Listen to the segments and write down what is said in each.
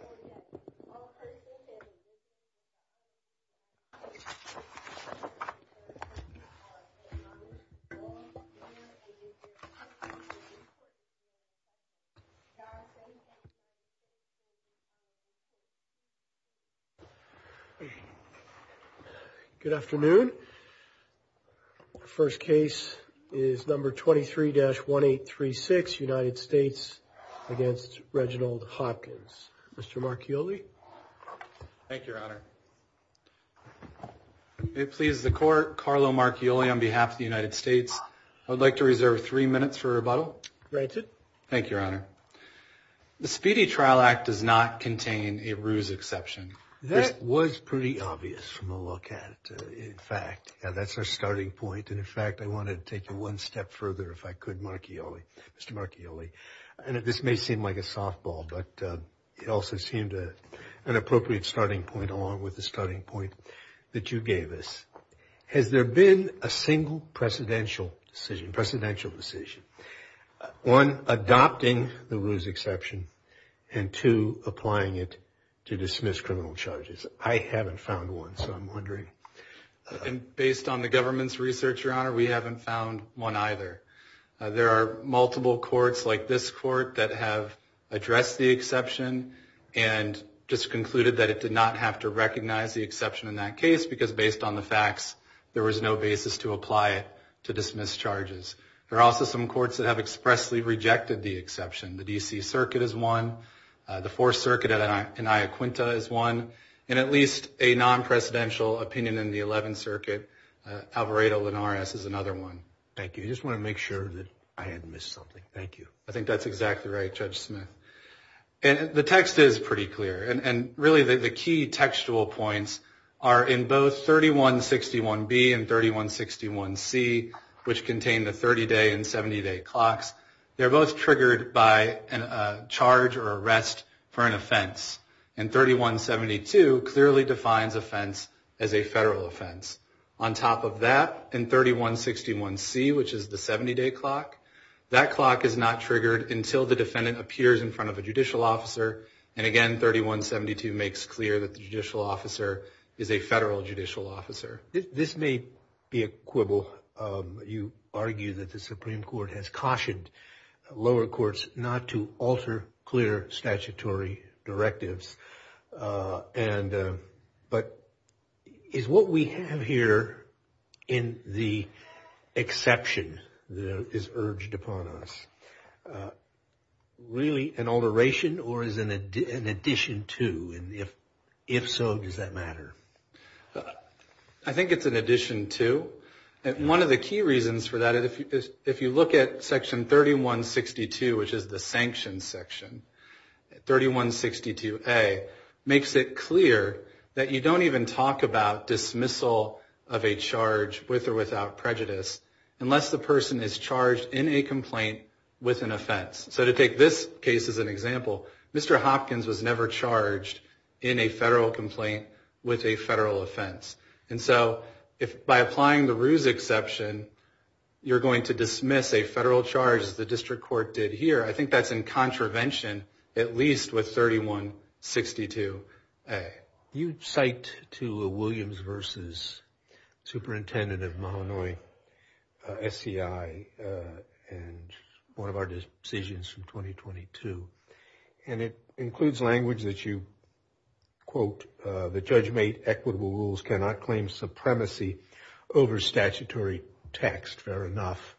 government. Good afternoon. First case is number 23-1836, United States against Reginald Hopkins. Mr. Marchioli. Thank you, Your Honor. May it please the Court, Carlo Marchioli on behalf of the United States. I would like to reserve three minutes for rebuttal. Granted. Thank you, Your Honor. The Speedy Trial Act does not contain a ruse exception. That was pretty obvious from the look at it, in fact, and that's our starting point. And in fact, I wanted to take it one step further if I could, Mr. Marchioli. And this may seem like a softball, but it also seemed an appropriate starting point along with the starting point that you gave us. Has there been a single precedential decision, one adopting the ruse exception and two applying it to dismiss criminal charges? I haven't found one, so I'm wondering. And based on the government's research, Your Honor, we haven't found one either. There are multiple courts like this court that have addressed the exception and just recognized the exception in that case because, based on the facts, there was no basis to apply it to dismiss charges. There are also some courts that have expressly rejected the exception. The D.C. Circuit is one. The Fourth Circuit in Iaquinta is one. And at least a non-precedential opinion in the Eleventh Circuit, Alvarado-Linares, is another one. Thank you. I just want to make sure that I hadn't missed something. Thank you. I think that's exactly right, Judge Smith. And the text is pretty clear. And really, the key textual points are in both 3161B and 3161C, which contain the 30-day and 70-day clocks. They're both triggered by a charge or arrest for an offense. And 3172 clearly defines offense as a federal offense. On top of that, in 3161C, which is the 70-day clock, that clock is not triggered until the defendant is in front of a judicial officer. And again, 3172 makes clear that the judicial officer is a federal judicial officer. This may be a quibble. You argue that the Supreme Court has cautioned lower courts not to alter clear statutory directives. But is what we have here in the exception that is urged upon us really an alteration or is it an addition to, and if so, does that matter? I think it's an addition to. One of the key reasons for that, if you look at Section 3162, which is the sanctions section, 3162A makes it clear that you don't even talk about dismissal of a charge with or without prejudice unless the person is charged in a complaint with an offense. So to take this case as an example, Mr. Hopkins was never charged in a federal complaint with a federal offense. And so by applying the Ruse exception, you're going to dismiss a federal charge as the district court did here. I think that's in contravention, at least with 3162A. You cite to a Williams v. Superintendent of Illinois, SCI, and one of our decisions from 2022, and it includes language that you quote, the judge made equitable rules cannot claim supremacy over statutory text, fair enough.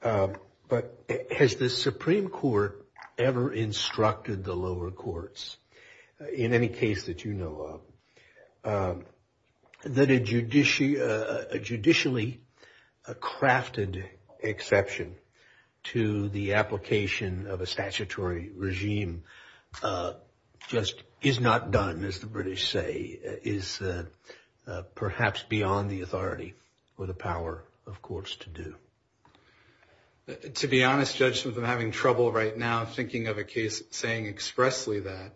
But has the Supreme Court ever instructed the lower courts in any case that you know of, that a judicially crafted exception to the application of a statutory regime just is not done, as the British say, is perhaps beyond the authority or the power of courts to do? To be honest, Judge Smith, I'm having trouble right now thinking of a case saying expressly that.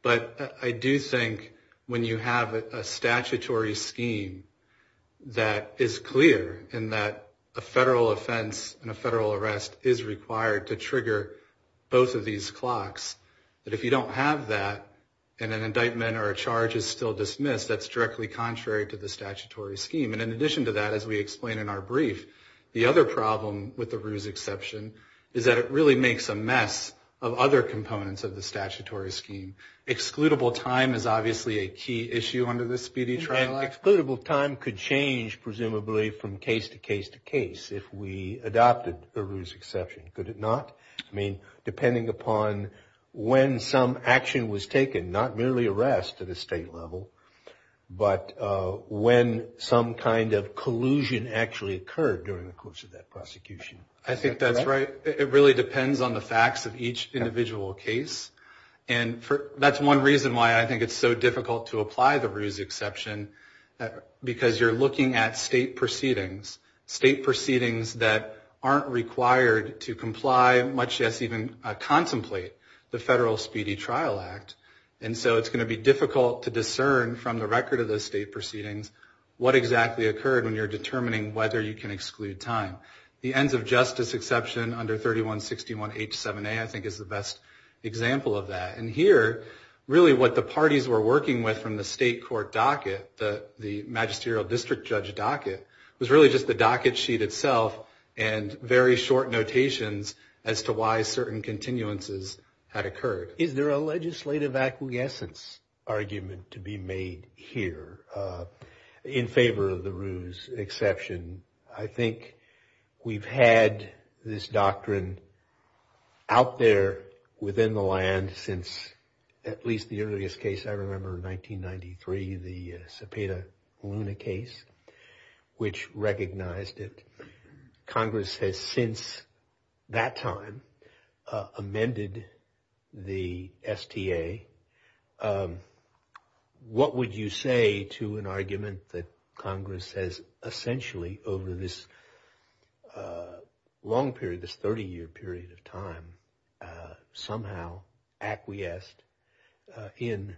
But I do think when you have a statutory scheme that is clear and that a federal offense and a federal arrest is required to trigger both of these clocks, that if you don't have that and an indictment or a charge is still dismissed, that's directly contrary to the statutory scheme. And in addition to that, as we explain in our brief, the other problem with the ruse exception is that it really makes a mess of other components of the statutory scheme. Excludable time is obviously a key issue under this Speedy Trial Act. Excludable time could change, presumably, from case to case to case if we adopted the ruse exception, could it not? I mean, depending upon when some action was taken, not merely arrest at a state level, but when some kind of collusion actually occurred during the course of that prosecution. I think that's right. It really depends on the facts of each individual case. And that's one reason why I think it's so difficult to apply the ruse exception, because you're looking at state proceedings, state proceedings that aren't required to comply, much less even contemplate, the federal Speedy Trial Act. And so it's going to be difficult to discern from the record of those state proceedings what exactly occurred when you're determining whether you can exclude time. The ends of justice exception under 3161H7A, I think, is the best example of that. And here, really what the parties were working with from the state court docket, the magisterial district judge docket, was really just the docket sheet itself and very short notations as to why certain continuances had occurred. Is there a legislative acquiescence argument to be made here in favor of the ruse exception? I think we've had this doctrine out there within the land since at least the earliest case I remember in 1993, the Cepeda Luna case, which recognized it. Congress has since that time amended the STA. What would you say to an argument that Congress has essentially over this long period, this 30-year period of time, somehow acquiesced in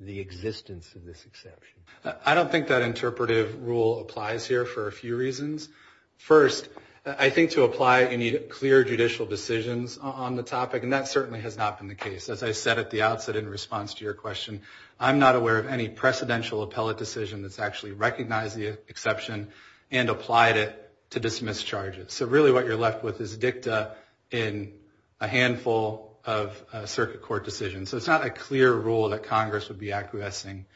the existence of this exception? I don't think that interpretive rule applies here for a few reasons. First, I think to apply it, you need clear judicial decisions on the topic. And that certainly has not been the case. As I said at the outset in response to your question, I'm not aware of any precedential appellate decision that's actually recognized the exception and applied it to dismiss charges. So really what you're left with is dicta in a handful of circuit court decisions. So it's not a clear rule that Congress would be acquiescing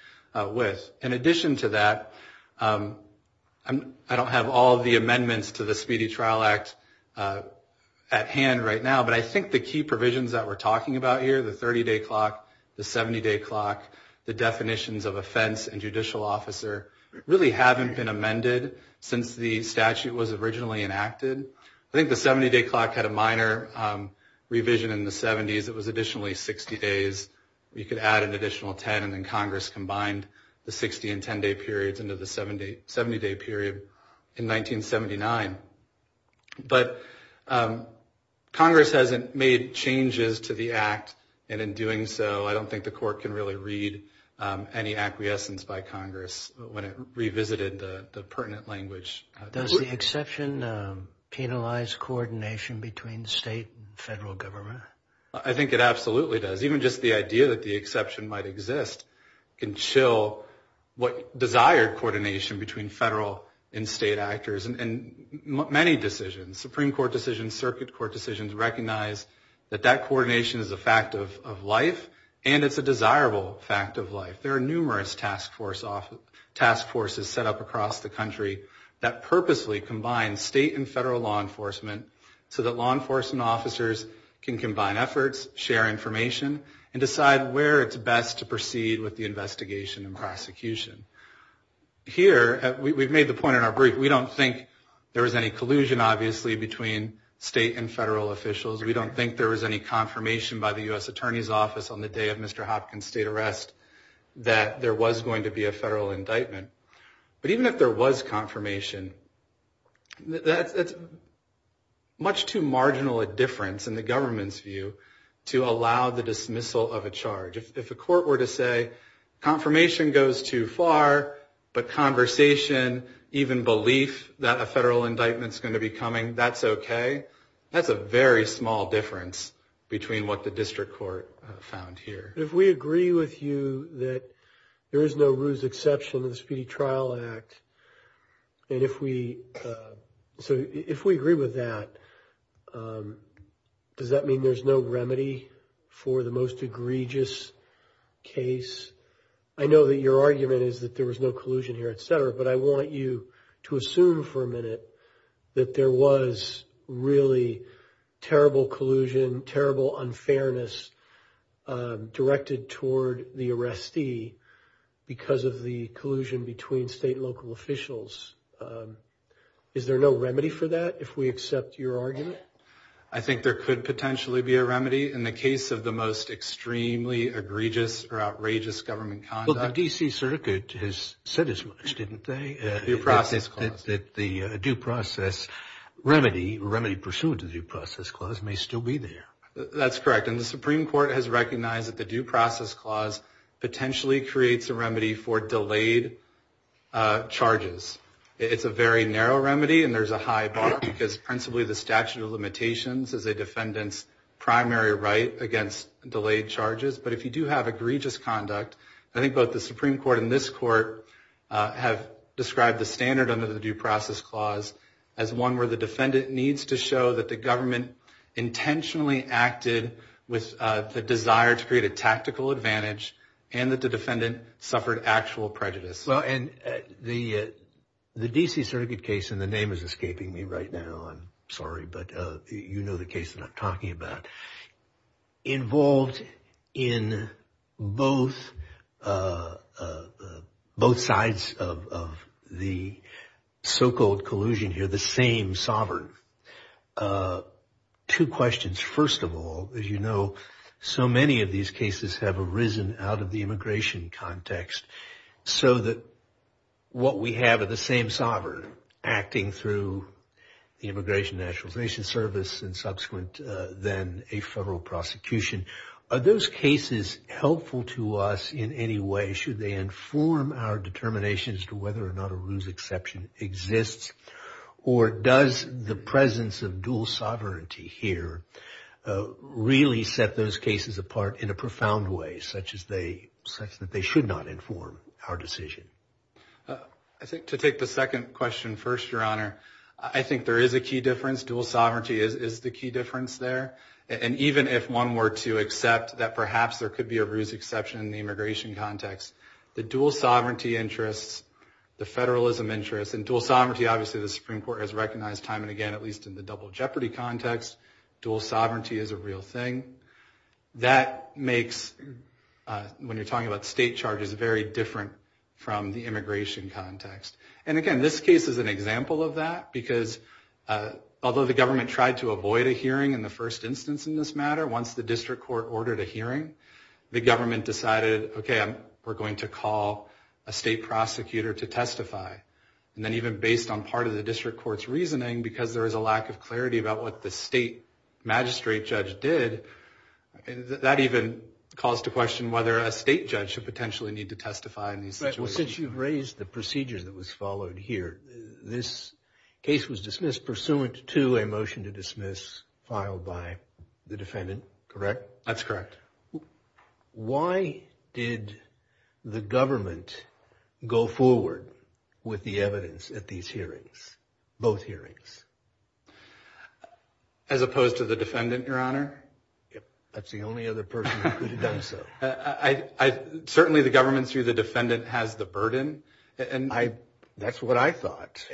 with. In addition to that, I don't have all of the amendments to the Speedy Trial Act at hand right now. But I think the key provisions that we're talking about here, the 30-day clock, the 70-day clock, the definitions of offense and judicial officer, really haven't been amended since the statute was originally enacted. I think the 70-day clock had a minor revision in the 70s. It was additionally 60 days. You could add an additional 10. And then Congress combined the 60- and 10-day periods into the 70-day period in 1979. But Congress hasn't made changes to the act. And in doing so, I don't think the court can really read any acquiescence by Congress when it revisited the pertinent language. Does the exception penalize coordination between state and federal government? I think it absolutely does. Even just the idea that the exception might exist can chill what desired coordination between federal and state actors. And many decisions, Supreme Court decisions, circuit court decisions, recognize that that coordination is a fact of life. And it's a desirable fact of life. There are numerous task forces set up across the country that purposely combine state and federal law enforcement so that law enforcement officers can combine efforts, share information, decide where it's best to proceed with the investigation and prosecution. Here, we've made the point in our brief, we don't think there was any collusion, obviously, between state and federal officials. We don't think there was any confirmation by the U.S. Attorney's Office on the day of Mr. Hopkins' state arrest that there was going to be a federal indictment. But even if there was confirmation, that's much too marginal a difference in the government's to allow the dismissal of a charge. If the court were to say, confirmation goes too far, but conversation, even belief that a federal indictment's going to be coming, that's okay, that's a very small difference between what the district court found here. But if we agree with you that there is no ruse exception in the Speedy Trial Act, and remedy for the most egregious case, I know that your argument is that there was no collusion here, et cetera, but I want you to assume for a minute that there was really terrible collusion, terrible unfairness directed toward the arrestee because of the collusion between state and local officials. Is there no remedy for that, if we accept your argument? I think there could potentially be a remedy in the case of the most extremely egregious or outrageous government conduct. Well, the D.C. Circuit has said as much, didn't they? Due process clause. That the due process remedy, remedy pursuant to the due process clause may still be there. That's correct. And the Supreme Court has recognized that the due process clause potentially creates a remedy for delayed charges. It's a very narrow remedy, and there's a high bar because principally the statute of limitations is a defendant's primary right against delayed charges. But if you do have egregious conduct, I think both the Supreme Court and this court have described the standard under the due process clause as one where the defendant needs to show that the government intentionally acted with the desire to create a tactical advantage and that the defendant suffered actual prejudice. And the D.C. Circuit case, and the name is escaping me right now, I'm sorry, but you know the case that I'm talking about, involved in both sides of the so-called collusion here, the same sovereign. Two questions. First of all, as you know, so many of these cases have arisen out of the immigration context so that what we have are the same sovereign acting through the immigration nationalization service and subsequent then a federal prosecution. Are those cases helpful to us in any way? Should they inform our determinations as to whether or not a ruse exception exists? Or does the presence of dual sovereignty here really set those cases apart in a profound way such that they should not inform our decision? I think to take the second question first, Your Honor, I think there is a key difference. Dual sovereignty is the key difference there. And even if one were to accept that perhaps there could be a ruse exception in the immigration context, the dual sovereignty interests, the federalism interests, and dual sovereignty, obviously, the Supreme Court has recognized time and again, at least in the double jeopardy context, dual sovereignty is a real thing. That makes, when you're talking about state charges, very different from the immigration context. And again, this case is an example of that. Because although the government tried to avoid a hearing in the first instance in this matter, once the district court ordered a hearing, the government decided, OK, we're going to call a state prosecutor to testify. And then even based on part of the district court's reasoning, because there is a lack of clarity about what the state magistrate judge did, that even calls to question whether a state judge should potentially need to testify in these situations. Well, since you've raised the procedure that was followed here, this case was dismissed pursuant to a motion to dismiss filed by the defendant, correct? That's correct. Why did the government go forward with the evidence at these hearings, both hearings? As opposed to the defendant, Your Honor? That's the only other person who could have done so. Certainly, the government, through the defendant, has the burden. That's what I thought.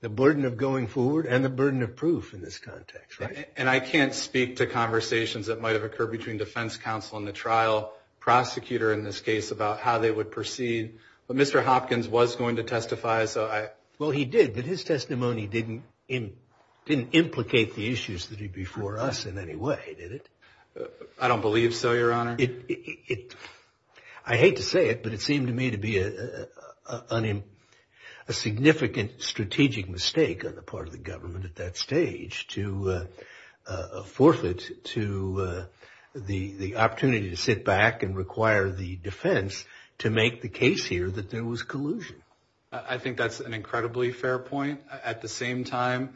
The burden of going forward and the burden of proof in this context, right? And I can't speak to conversations that might have occurred between defense counsel and the trial prosecutor in this case about how they would proceed. But Mr. Hopkins was going to testify. Well, he did. But his testimony didn't implicate the issues that are before us in any way, did it? I don't believe so, Your Honor. I hate to say it, but it seemed to me to be a significant strategic mistake on the part of the government at that stage to forfeit to the opportunity to sit back and require the defense to make the case here that there was collusion. I think that's an incredibly fair point. At the same time,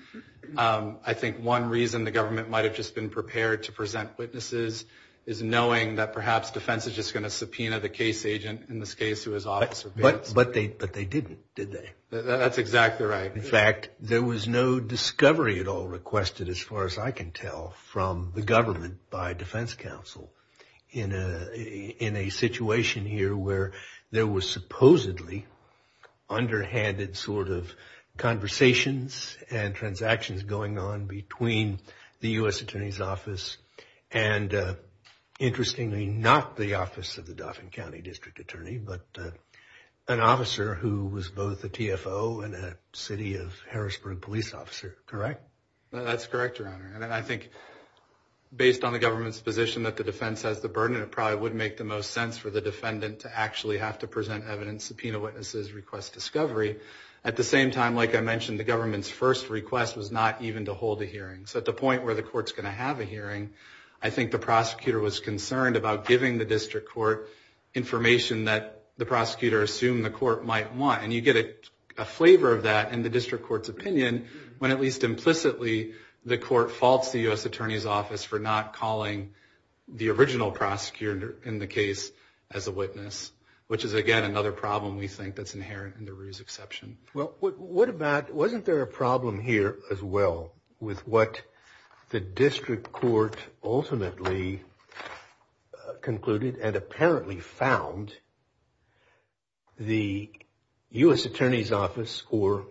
I think one reason the government might have just been prepared to present witnesses is knowing that perhaps defense is just going to subpoena the case agent in this case who is officer Bates. But they didn't, did they? That's exactly right. In fact, there was no discovery at all requested, as far as I can tell, from the government by defense counsel in a situation here where there was supposedly underhanded sort of conversations and transactions going on between the U.S. Attorney's Office and, interestingly, not the office of the Dauphin County District Attorney, but an officer who was both a TFO and a city of Harrisburg police officer, correct? That's correct, Your Honor. I think, based on the government's position that the defense has the burden, it probably would make the most sense for the defendant to actually have to present evidence, subpoena witnesses, request discovery. At the same time, like I mentioned, the government's first request was not even to hold a hearing. So at the point where the court's going to have a hearing, I think the prosecutor was concerned about giving the district court information that the prosecutor assumed the court might want. And you get a flavor of that in the district court's opinion when, at least implicitly, the court faults the U.S. Attorney's Office for not calling the original prosecutor in the case as a witness, which is, again, another problem we think that's inherent in the Ruse exception. Well, wasn't there a problem here as well with what the district court ultimately concluded and apparently found the U.S. Attorney's Office, or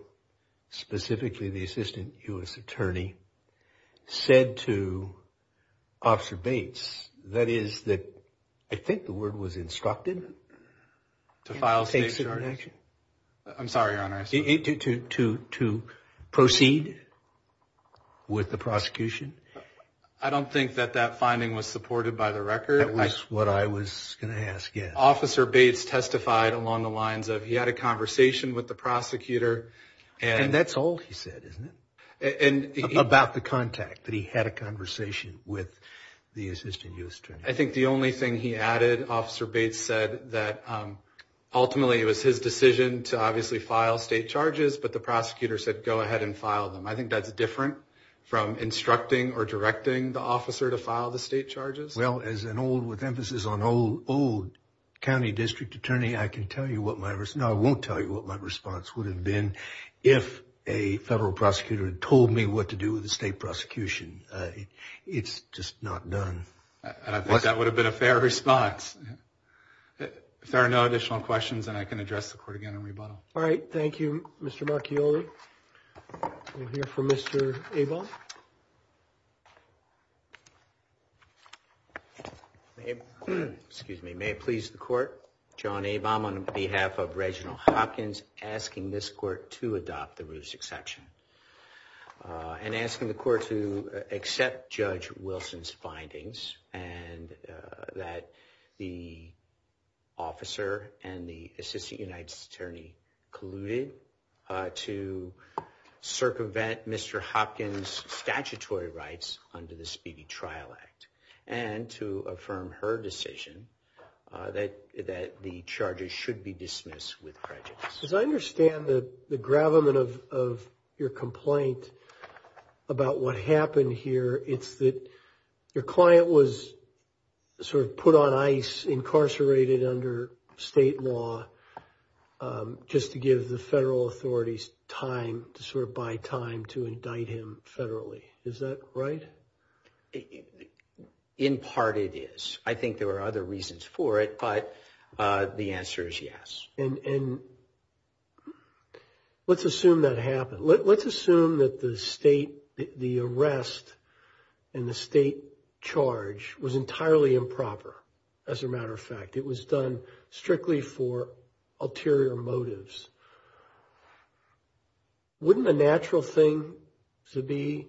specifically the assistant U.S. Attorney, said to Officer Bates? That is that, I think the word was instructed to file state charges. I'm sorry, Your Honor. To proceed with the prosecution? I don't think that that finding was supported by the record. That was what I was going to ask, yes. Officer Bates testified along the lines of he had a conversation with the prosecutor. And that's all he said, isn't it? About the contact, that he had a conversation with the assistant U.S. Attorney. I think the only thing he added, Officer Bates said that ultimately it was his decision to obviously file state charges, but the prosecutor said go ahead and file them. I think that's different from instructing or directing the officer to file the state charges. Well, as an old, with emphasis on old, county district attorney, I can tell you what my response, no, I won't tell you what my response would have been if a federal prosecutor had told me what to do with the state prosecution. It's just not done. And I think that would have been a fair response. If there are no additional questions, then I can address the court again in rebuttal. All right, thank you, Mr. Marchioli. We'll hear from Mr. Abel. May it please the court, John Abam, on behalf of Reginald Hopkins, asking this court to adopt the Roos exception. And asking the court to accept Judge Wilson's findings, and that the officer and the assistant United States Attorney colluded to circumvent Mr. Hopkins' statutory rights under the Speedy Trial Act. And to affirm her decision that the charges should be dismissed with prejudice. As I understand the gravamen of your complaint about what happened here, it's that your client was sort of put on ice, incarcerated under state law, just to give the federal authorities time, to sort of buy time to indict him federally. Is that right? In part, it is. I think there are other reasons for it, but the answer is yes. And let's assume that happened. Let's assume that the arrest and the state charge was entirely improper, as a matter of fact. It was done strictly for ulterior motives. Wouldn't a natural thing to be,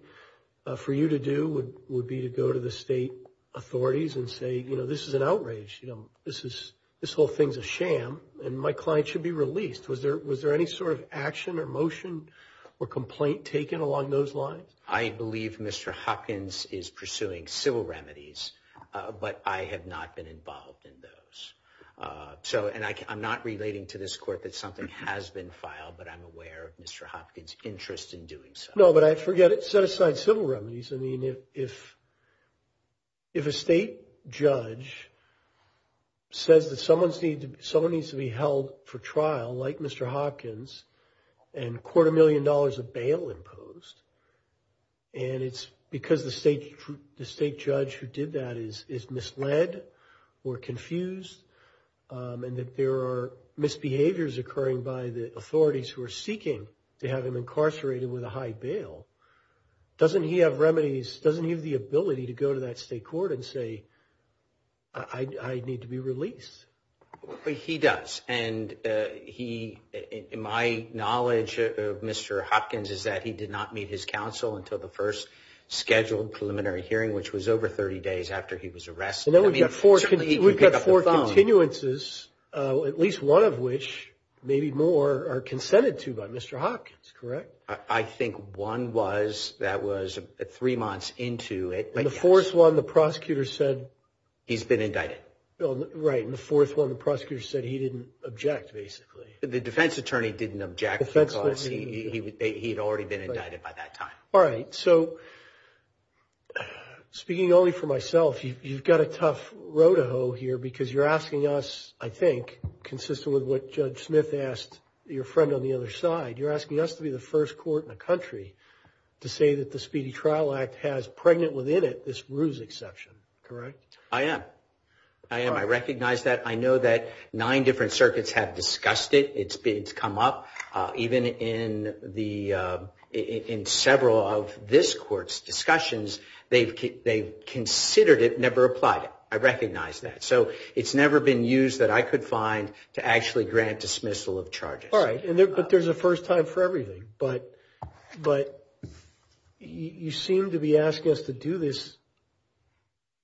for you to do, would be to go to the state authorities and say, you know, this is an outrage. You know, this whole thing's a sham, and my client should be released. Was there any sort of action or motion or complaint taken along those lines? I believe Mr. Hopkins is pursuing civil remedies, but I have not been involved in those. So, and I'm not relating to this court that something has been filed, but I'm aware of Mr. Hopkins' interest in doing so. No, but I forget it. Set aside civil remedies. I mean, if a state judge says that someone needs to be held for trial, like Mr. Hopkins, and a quarter million dollars of bail imposed, and it's because the state judge who did that is misled or confused, and that there are misbehaviors occurring by the authorities who are seeking to have him incarcerated with a high bail, doesn't he have remedies, doesn't he have the ability to go to that state court and say, I need to be released? Well, he does, and he, my knowledge of Mr. Hopkins is that he did not meet his counsel until the first scheduled preliminary hearing, which was over 30 days after he was arrested. And then we've got four continuances, at least one of which, maybe more, are consented to by Mr. Hopkins, correct? I think one was, that was three months into it. And the fourth one, the prosecutor said- He's been indicted. Right, and the fourth one, the prosecutor said he didn't object, basically. The defense attorney didn't object. He had already been indicted by that time. All right, so speaking only for myself, you've got a tough road to hoe here, because you're asking us, I think, consistent with what Judge Smith asked your friend on the other side, you're asking us to be the first court in the country to say that the Speedy Trial Act has pregnant within it this ruse exception, correct? I am, I am. I recognize that. I know that nine different circuits have discussed it. It's come up even in several of this court's discussions. They've considered it, never applied it. I recognize that. So it's never been used that I could find to actually grant dismissal of charges. All right, but there's a first time for everything. But you seem to be asking us to do this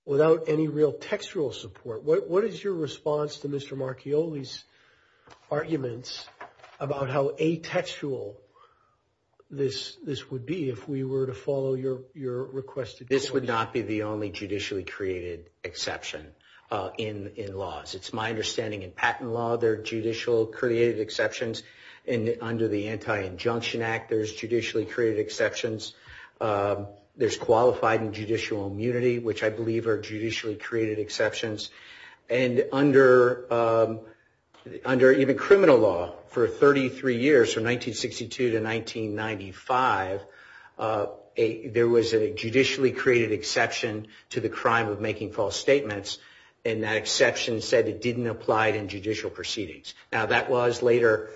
without any real textual support. What is your response to Mr. Marchioli's arguments about how atextual this would be if we were to follow your requested court? This would not be the only judicially created exception in laws. It's my understanding in patent law, there are judicially created exceptions. Under the Anti-Injunction Act, there's judicially created exceptions. There's qualified and judicial immunity, which I believe are judicially created exceptions. And under even criminal law, for 33 years, from 1962 to 1995, there was a judicially created exception to the crime of making false statements. And that exception said it didn't apply in judicial proceedings. Now, that was later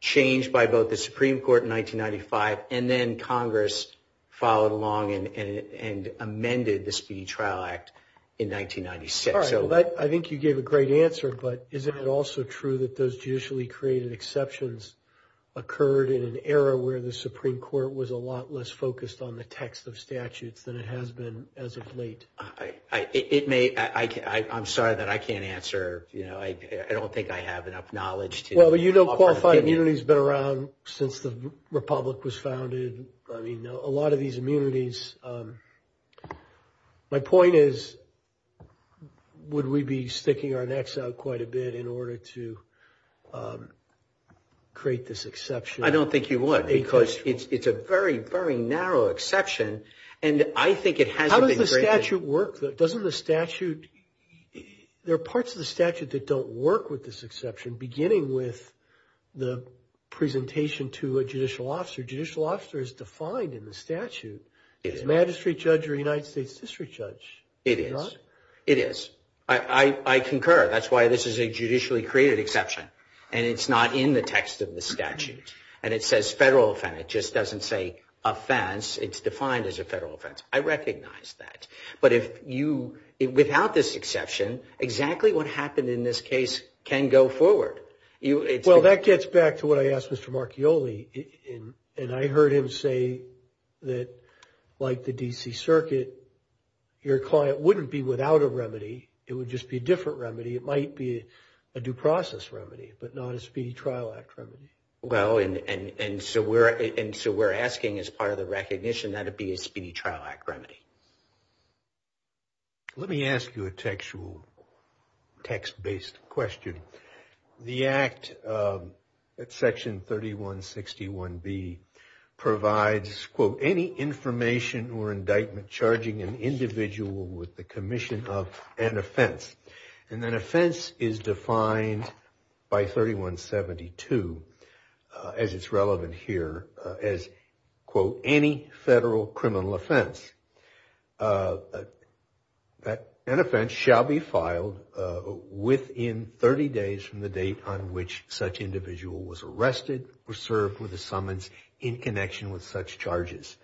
changed by both the Supreme Court in 1995, and then Congress followed along and amended the Speedy Trial Act in 1996. I think you gave a great answer. But isn't it also true that those judicially created exceptions occurred in an era where the Supreme Court was a lot less focused on the text of statutes than it has been as of late? I'm sorry that I can't answer. I don't think I have enough knowledge to- Well, you know qualified immunity has been around since the Republic was founded. A lot of these immunities... My point is, would we be sticking our necks out quite a bit in order to create this exception? I don't think you would, because it's a very, very narrow exception. And I think it hasn't been created- How does the statute work? Doesn't the statute... There are parts of the statute that don't work with this exception, beginning with the presentation to a judicial officer. Judicial officer is defined in the statute. Is a magistrate judge or a United States district judge? It is. It is. I concur. That's why this is a judicially created exception. And it's not in the text of the statute. And it says federal offense. It just doesn't say offense. It's defined as a federal offense. I recognize that. But if you... Without this exception, exactly what happened in this case can go forward. Well, that gets back to what I asked Mr. Marchioli. And I heard him say that, like the D.C. Circuit, your client wouldn't be without a remedy. It would just be a different remedy. It might be a due process remedy, but not a Speedy Trial Act remedy. Well, and so we're asking, as part of the recognition, that it be a Speedy Trial Act remedy. Let me ask you a textual, text-based question. The Act at Section 3161B provides, quote, any information or indictment charging an individual with the commission of an offense. And an offense is defined by 3172, as it's relevant here, as, quote, any federal criminal offense. An offense shall be filed within 30 days from the date on which such individual was arrested or served with a summons in connection with such charges.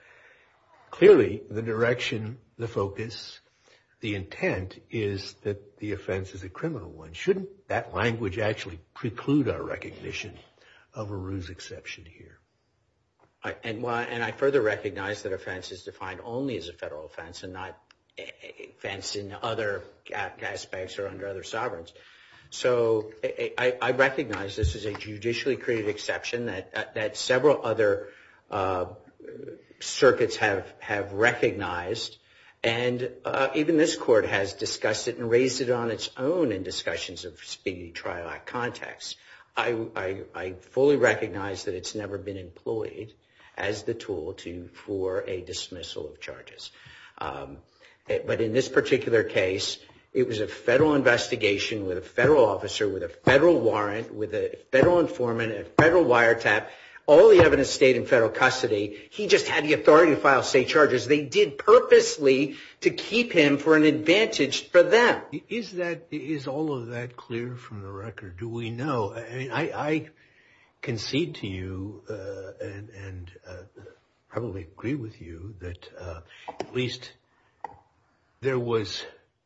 Clearly, the direction, the focus, the intent is that the offense is a criminal one. Shouldn't that language actually preclude our recognition of a ruse exception here? And I further recognize that offense is defined only as a federal offense and not offense in other aspects or under other sovereigns. So I recognize this is a judicially created exception that several other circuits have recognized. And even this Court has discussed it and raised it on its own in discussions of Speedy Trial Act context. I fully recognize that it's never been employed as the tool for a dismissal of charges. But in this particular case, it was a federal investigation with a federal officer, with a federal warrant, with a federal informant, a federal wiretap, all the evidence stayed in federal custody. He just had the authority to file state charges. They did purposely to keep him for an advantage for them. Is that, is all of that clear from the record? Do we know? I mean, I concede to you and probably agree with you that at least there was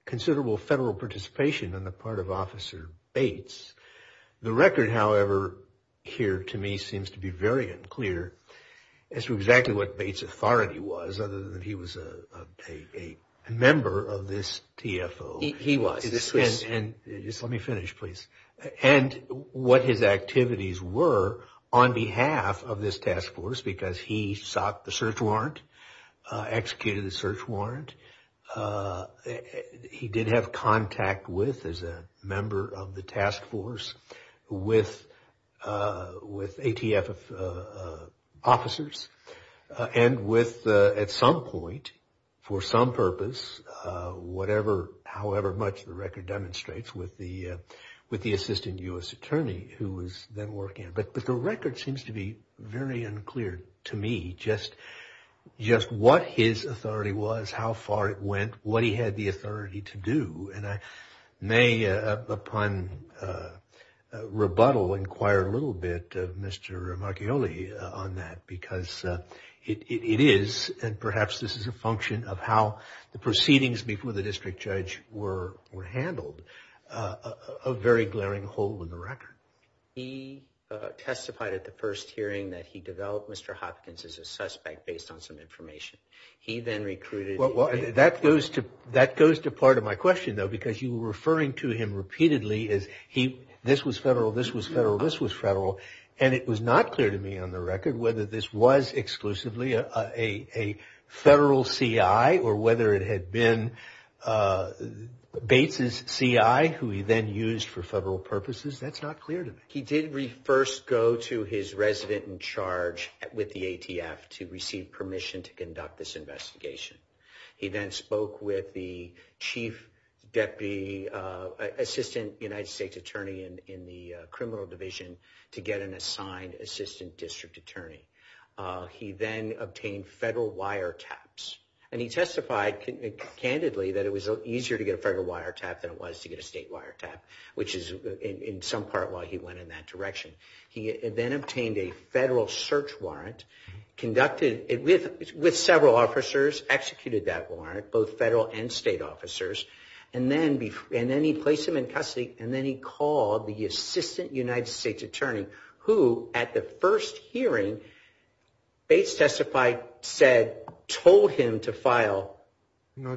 considerable federal participation on the part of Officer Bates. The record, however, here to me seems to be very unclear as to exactly what Bates' authority was other than he was a member of this TFO. He was. And just let me finish, please. And what his activities were on behalf of this task force, because he sought the search warrant, executed the search warrant. He did have contact with, as a member of the task force, with ATF officers. And with, at some point, for some purpose, whatever, however much the record demonstrates, with the assistant U.S. attorney who was then working. But the record seems to be very unclear to me, just what his authority was, how far it went, what he had the authority to do. And I may, upon rebuttal, inquire a little bit of Mr. Marchioli on that, because it is, and perhaps this is a function of how the proceedings before the district judge were handled, a very glaring hole in the record. He testified at the first hearing that he developed Mr. Hopkins as a suspect based on some information. He then recruited. Well, that goes to part of my question, though, because you were referring to him repeatedly as he, this was federal, this was federal, this was federal. And it was not clear to me, on the record, whether this was exclusively a federal CI, or whether it had been Bates's CI, who he then used for federal purposes. That's not clear to me. He did first go to his resident in charge with the ATF to receive permission to conduct this investigation. He then spoke with the chief deputy, assistant United States attorney in the criminal division to get an assigned assistant district attorney. He then obtained federal wiretaps. And he testified candidly that it was easier to get a federal wiretap than it was to get a state wiretap, which is in some part why he went in that direction. He then obtained a federal search warrant, conducted it with several officers, executed that warrant, both federal and state officers. And then he placed him in custody, and then he called the assistant United States attorney, who, at the first hearing, Bates testified, said, told him to file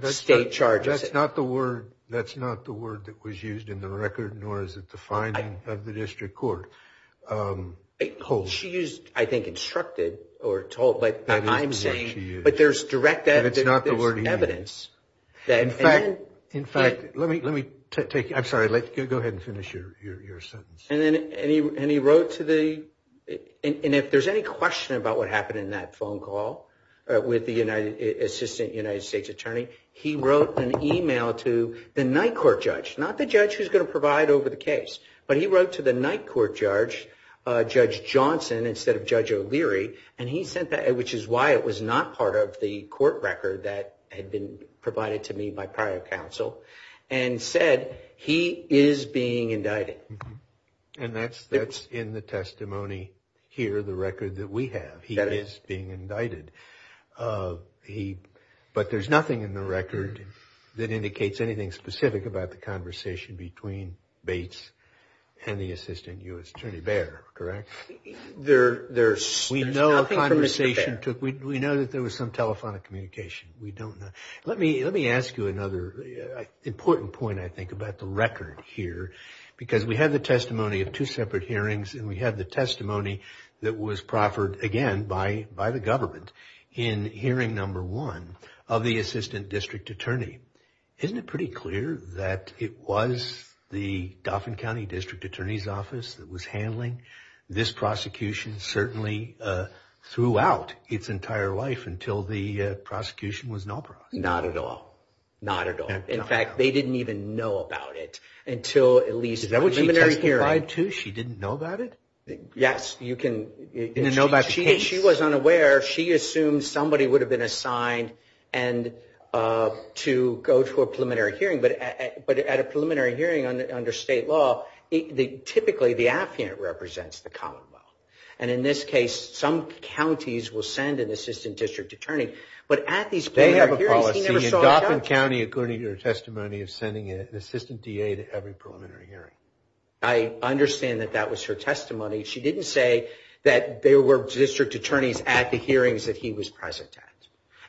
state charges. That's not the word, that's not the word that was used in the record, nor is it the finding of the district court. She used, I think, instructed or told, but I'm saying, but there's direct evidence. In fact, let me, let me take, I'm sorry, go ahead and finish your sentence. And then, and he wrote to the, and if there's any question about what happened in that phone call with the assistant United States attorney, he wrote an email to the night court judge, not the judge who's going to provide over the case, but he wrote to the night court judge, Judge Johnson instead of Judge O'Leary, and he sent that, which is why it was not part of the court record that had been provided to me by prior counsel, and said, he is being indicted. And that's, that's in the testimony here, the record that we have, he is being indicted. He, but there's nothing in the record that indicates anything specific about the conversation between Bates and the assistant U.S. attorney Bair, correct? There, there's, there's nothing from Mr. Bair. We know the conversation took, we know that there was some telephonic communication, we don't know. Let me, let me ask you another important point, I think about the record here, because we have the testimony of two separate hearings and we have the testimony that was proffered again by, by the government in hearing number one of the assistant district attorney. Isn't it pretty clear that it was the Dauphin County district attorney's office that was handling this prosecution certainly throughout its entire life until the prosecution was nullified? Not at all. Not at all. In fact, they didn't even know about it until at least the preliminary hearing. She didn't know about it? Yes, you can. She was unaware. She assumed somebody would have been assigned and to go to a preliminary hearing, but at a preliminary hearing under state law, typically the affiant represents the commonwealth. And in this case, some counties will send an assistant district attorney, but at these, they have a policy in Dauphin County, according to her testimony of sending an assistant DA to every preliminary hearing. I understand that that was her testimony. She didn't say that there were district attorneys at the hearings that he was present at.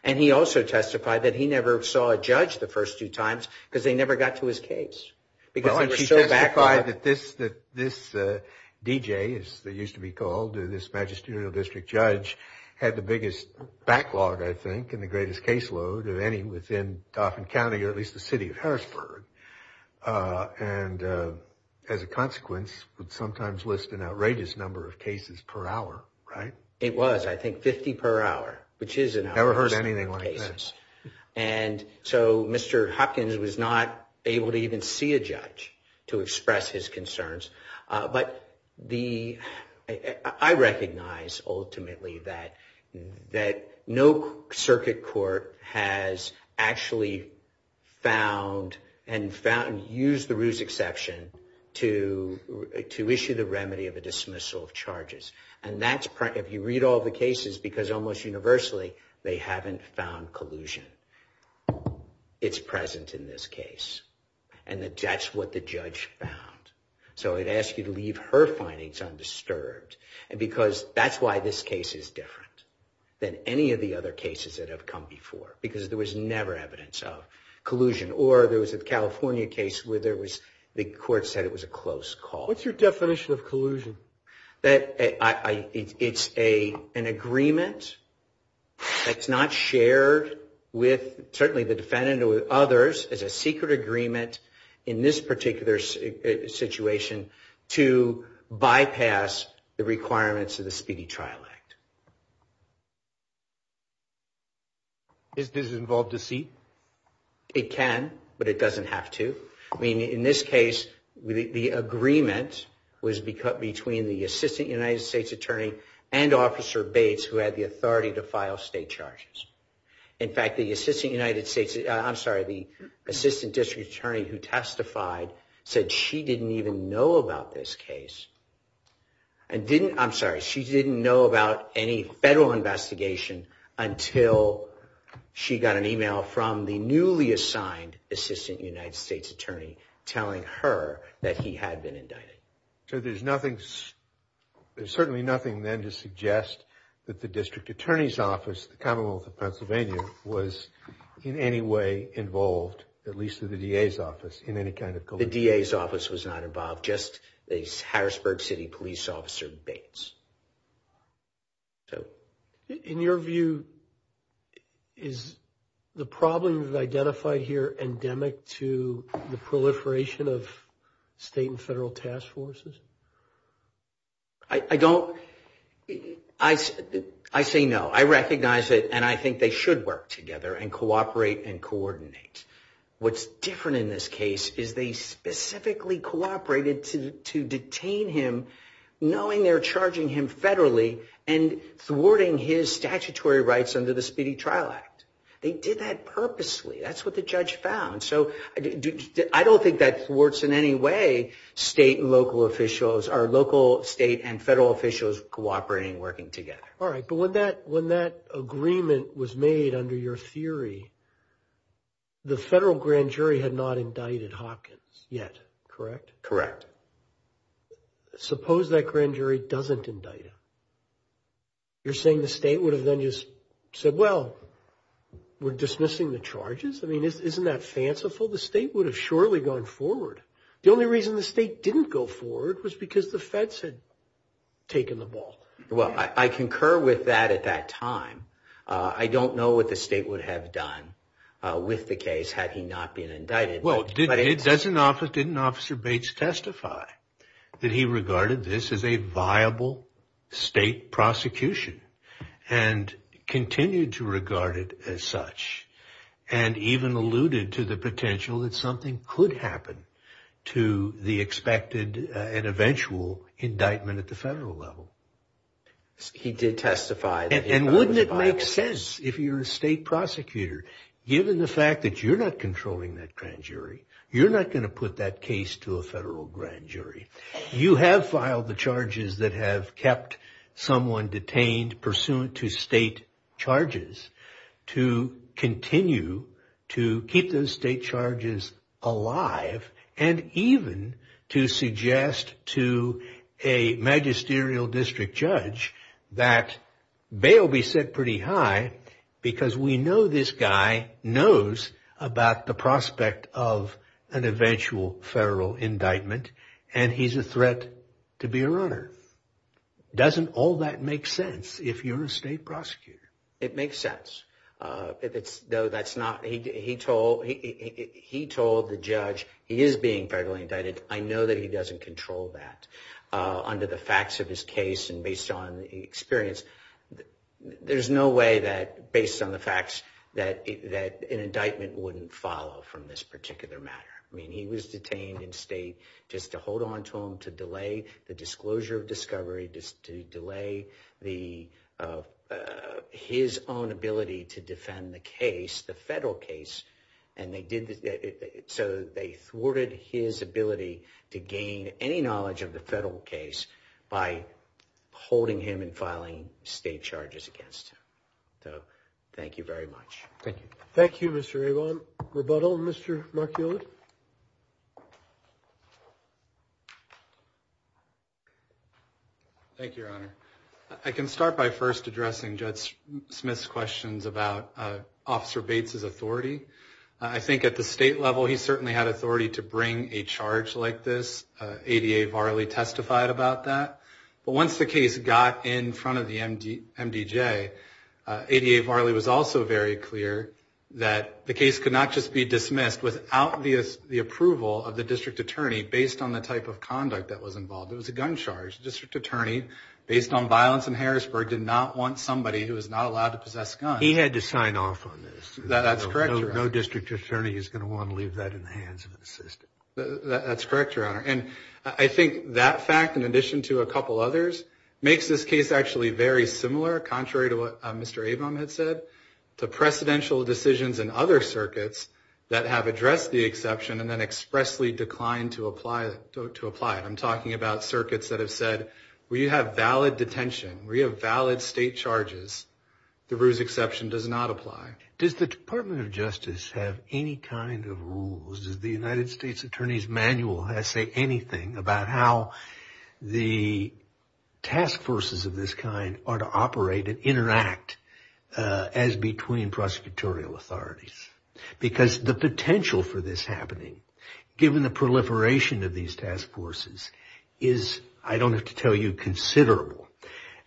And he also testified that he never saw a judge the first two times because they never got to his case. Because he testified that this, that this DJ is that used to be called this magisterial district judge had the biggest backlog, I think, and the greatest caseload of any within Dauphin County, or at least the city of Harrisburg. And as a consequence, would sometimes list an outrageous number of cases per hour, right? It was, I think, 50 per hour, which is- Never heard anything like that. And so Mr. Hopkins was not able to even see a judge to express his concerns. But the, I recognize ultimately that, that no circuit court has actually found and found, used the ruse exception to issue the remedy of a dismissal of charges. And that's, if you read all the cases, because almost universally, they haven't found collusion. It's present in this case. And that's what the judge found. So I'd ask you to leave her findings undisturbed. And because that's why this case is different than any of the other cases that have come before, because there was never evidence of collusion. Or there was a California case where there was, the court said it was a close call. What's your definition of collusion? That I, it's a, an agreement that's not shared with certainly the defendant or with others as a secret agreement. In this particular situation to bypass the requirements of the Speedy Trial Act. Is this involved deceit? It can, but it doesn't have to. I mean, in this case, the agreement was between the Assistant United States Attorney and Officer Bates, who had the authority to file state charges. In fact, the Assistant United States, I'm sorry, the Assistant District Attorney who testified said she didn't even know about this case. And didn't, I'm sorry, she didn't know about any federal investigation until she got an email from the newly assigned Assistant United States Attorney telling her that he had been indicted. So there's nothing, there's certainly nothing then to suggest that the District Attorney's Office, the Commonwealth of Pennsylvania, was in any way involved, at least through the DA's office, in any kind of complaint. The DA's office was not involved, just the Harrisburg City Police Officer Bates. So. In your view, is the problem identified here endemic to the proliferation of state and federal task forces? I don't, I say no. I recognize it and I think they should work together and cooperate and coordinate. What's different in this case is they specifically cooperated to detain him knowing they're charging him federally and thwarting his statutory rights under the Speedy Trial Act. They did that purposely. That's what the judge found. So I don't think that thwarts in any way state and local officials, our local state and federal officials cooperating and working together. All right, but when that agreement was made under your theory, the federal grand jury had not indicted Hopkins yet, correct? Correct. Suppose that grand jury doesn't indict him. You're saying the state would have then just said, well, we're dismissing the charges. I mean, isn't that fanciful? The state would have surely gone forward. The only reason the state didn't go forward was because the feds had taken the ball. Well, I concur with that at that time. I don't know what the state would have done. With the case, had he not been indicted. Well, didn't Officer Bates testify that he regarded this as a viable state prosecution and continued to regard it as such and even alluded to the potential that something could happen to the expected and eventual indictment at the federal level. He did testify. And wouldn't it make sense if you're a state prosecutor given the fact that you're not controlling that grand jury, you're not going to put that case to a federal grand jury. You have filed the charges that have kept someone detained pursuant to state charges to continue to keep those state charges alive and even to suggest to a magisterial district judge that bail be set pretty high because we know this guy knows about the prospect of an eventual federal indictment and he's a threat to be a runner. Doesn't all that make sense if you're a state prosecutor? It makes sense. No, that's not. He told the judge he is being federally indicted. I know that he doesn't control that under the facts of his case and based on the experience. There's no way that based on the facts that an indictment wouldn't follow from this particular matter. I mean, he was detained in state just to hold on to him, to delay the disclosure of discovery, just to delay his own ability to defend the case, the federal case. So they thwarted his ability to gain any knowledge of the federal case by holding him and filing state charges against him. So thank you very much. Thank you. Thank you, Mr. Avon. Rebuttal, Mr. Mark Hewlett. Thank you, Your Honor. I can start by first addressing Judge Smith's questions about Officer Bates's authority. I think at the state level, he certainly had authority to bring a charge like this. ADA Varley testified about that. But once the case got in front of the MDJ, ADA Varley was also very clear that the case could not just be dismissed without the approval of the district attorney based on the type of conduct that was involved. It was a gun charge. The district attorney, based on violence in Harrisburg, did not want somebody who was not allowed to possess a gun. He had to sign off on this. That's correct, Your Honor. No district attorney is going to want to leave that in the hands of an assistant. That's correct, Your Honor. I think that fact, in addition to a couple others, makes this case actually very similar, contrary to what Mr. Avum had said, to precedential decisions in other circuits that have addressed the exception and then expressly declined to apply it. I'm talking about circuits that have said, we have valid detention. We have valid state charges. DeRue's exception does not apply. Does the Department of Justice have any kind of rules? Does the United States Attorney's Manual say anything about how the task forces of this kind are to operate and interact as between prosecutorial authorities? Because the potential for this happening, given the proliferation of these task forces, is, I don't have to tell you, considerable.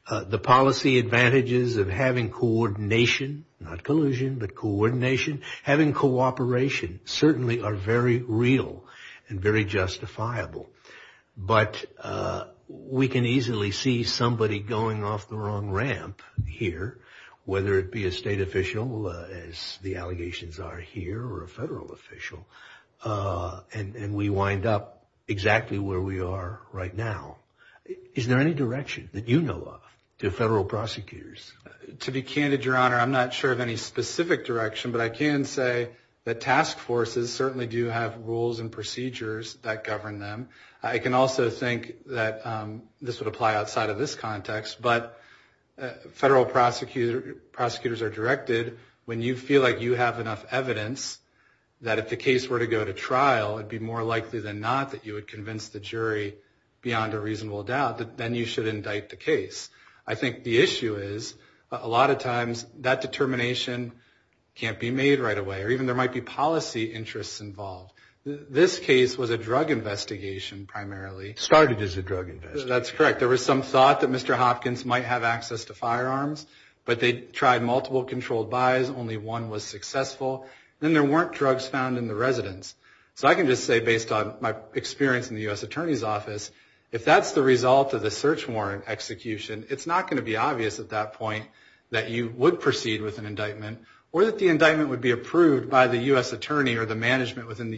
The policy advantages of having coordination, not collusion, but coordination, having cooperation, certainly are very real and very justifiable. But we can easily see somebody going off the wrong ramp here, whether it be a state official, as the allegations are here, or a federal official, and we wind up exactly where we are right now. Is there any direction that you know of to federal prosecutors? To be candid, Your Honor, I'm not sure of any specific direction, but I can say that task forces certainly do have rules and procedures that govern them. I can also think that this would apply outside of this context, but federal prosecutors are directed, when you feel like you have enough evidence, that if the case were to go to trial, it'd be more likely than not that you would convince the jury beyond a reasonable doubt, then you should indict the case. I think the issue is, a lot of times, that determination can't be made right away, or even there might be This case was a drug investigation, primarily. Started as a drug investigation. That's correct. There was some thought that Mr. Hopkins might have access to firearms, but they tried multiple controlled buys. Only one was successful. Then there weren't drugs found in the residence. So I can just say, based on my experience in the U.S. Attorney's Office, if that's the result of the search warrant execution, it's not going to be obvious at that point that you would proceed with an indictment, or that the indictment would be approved by the U.S. Attorney or the management within the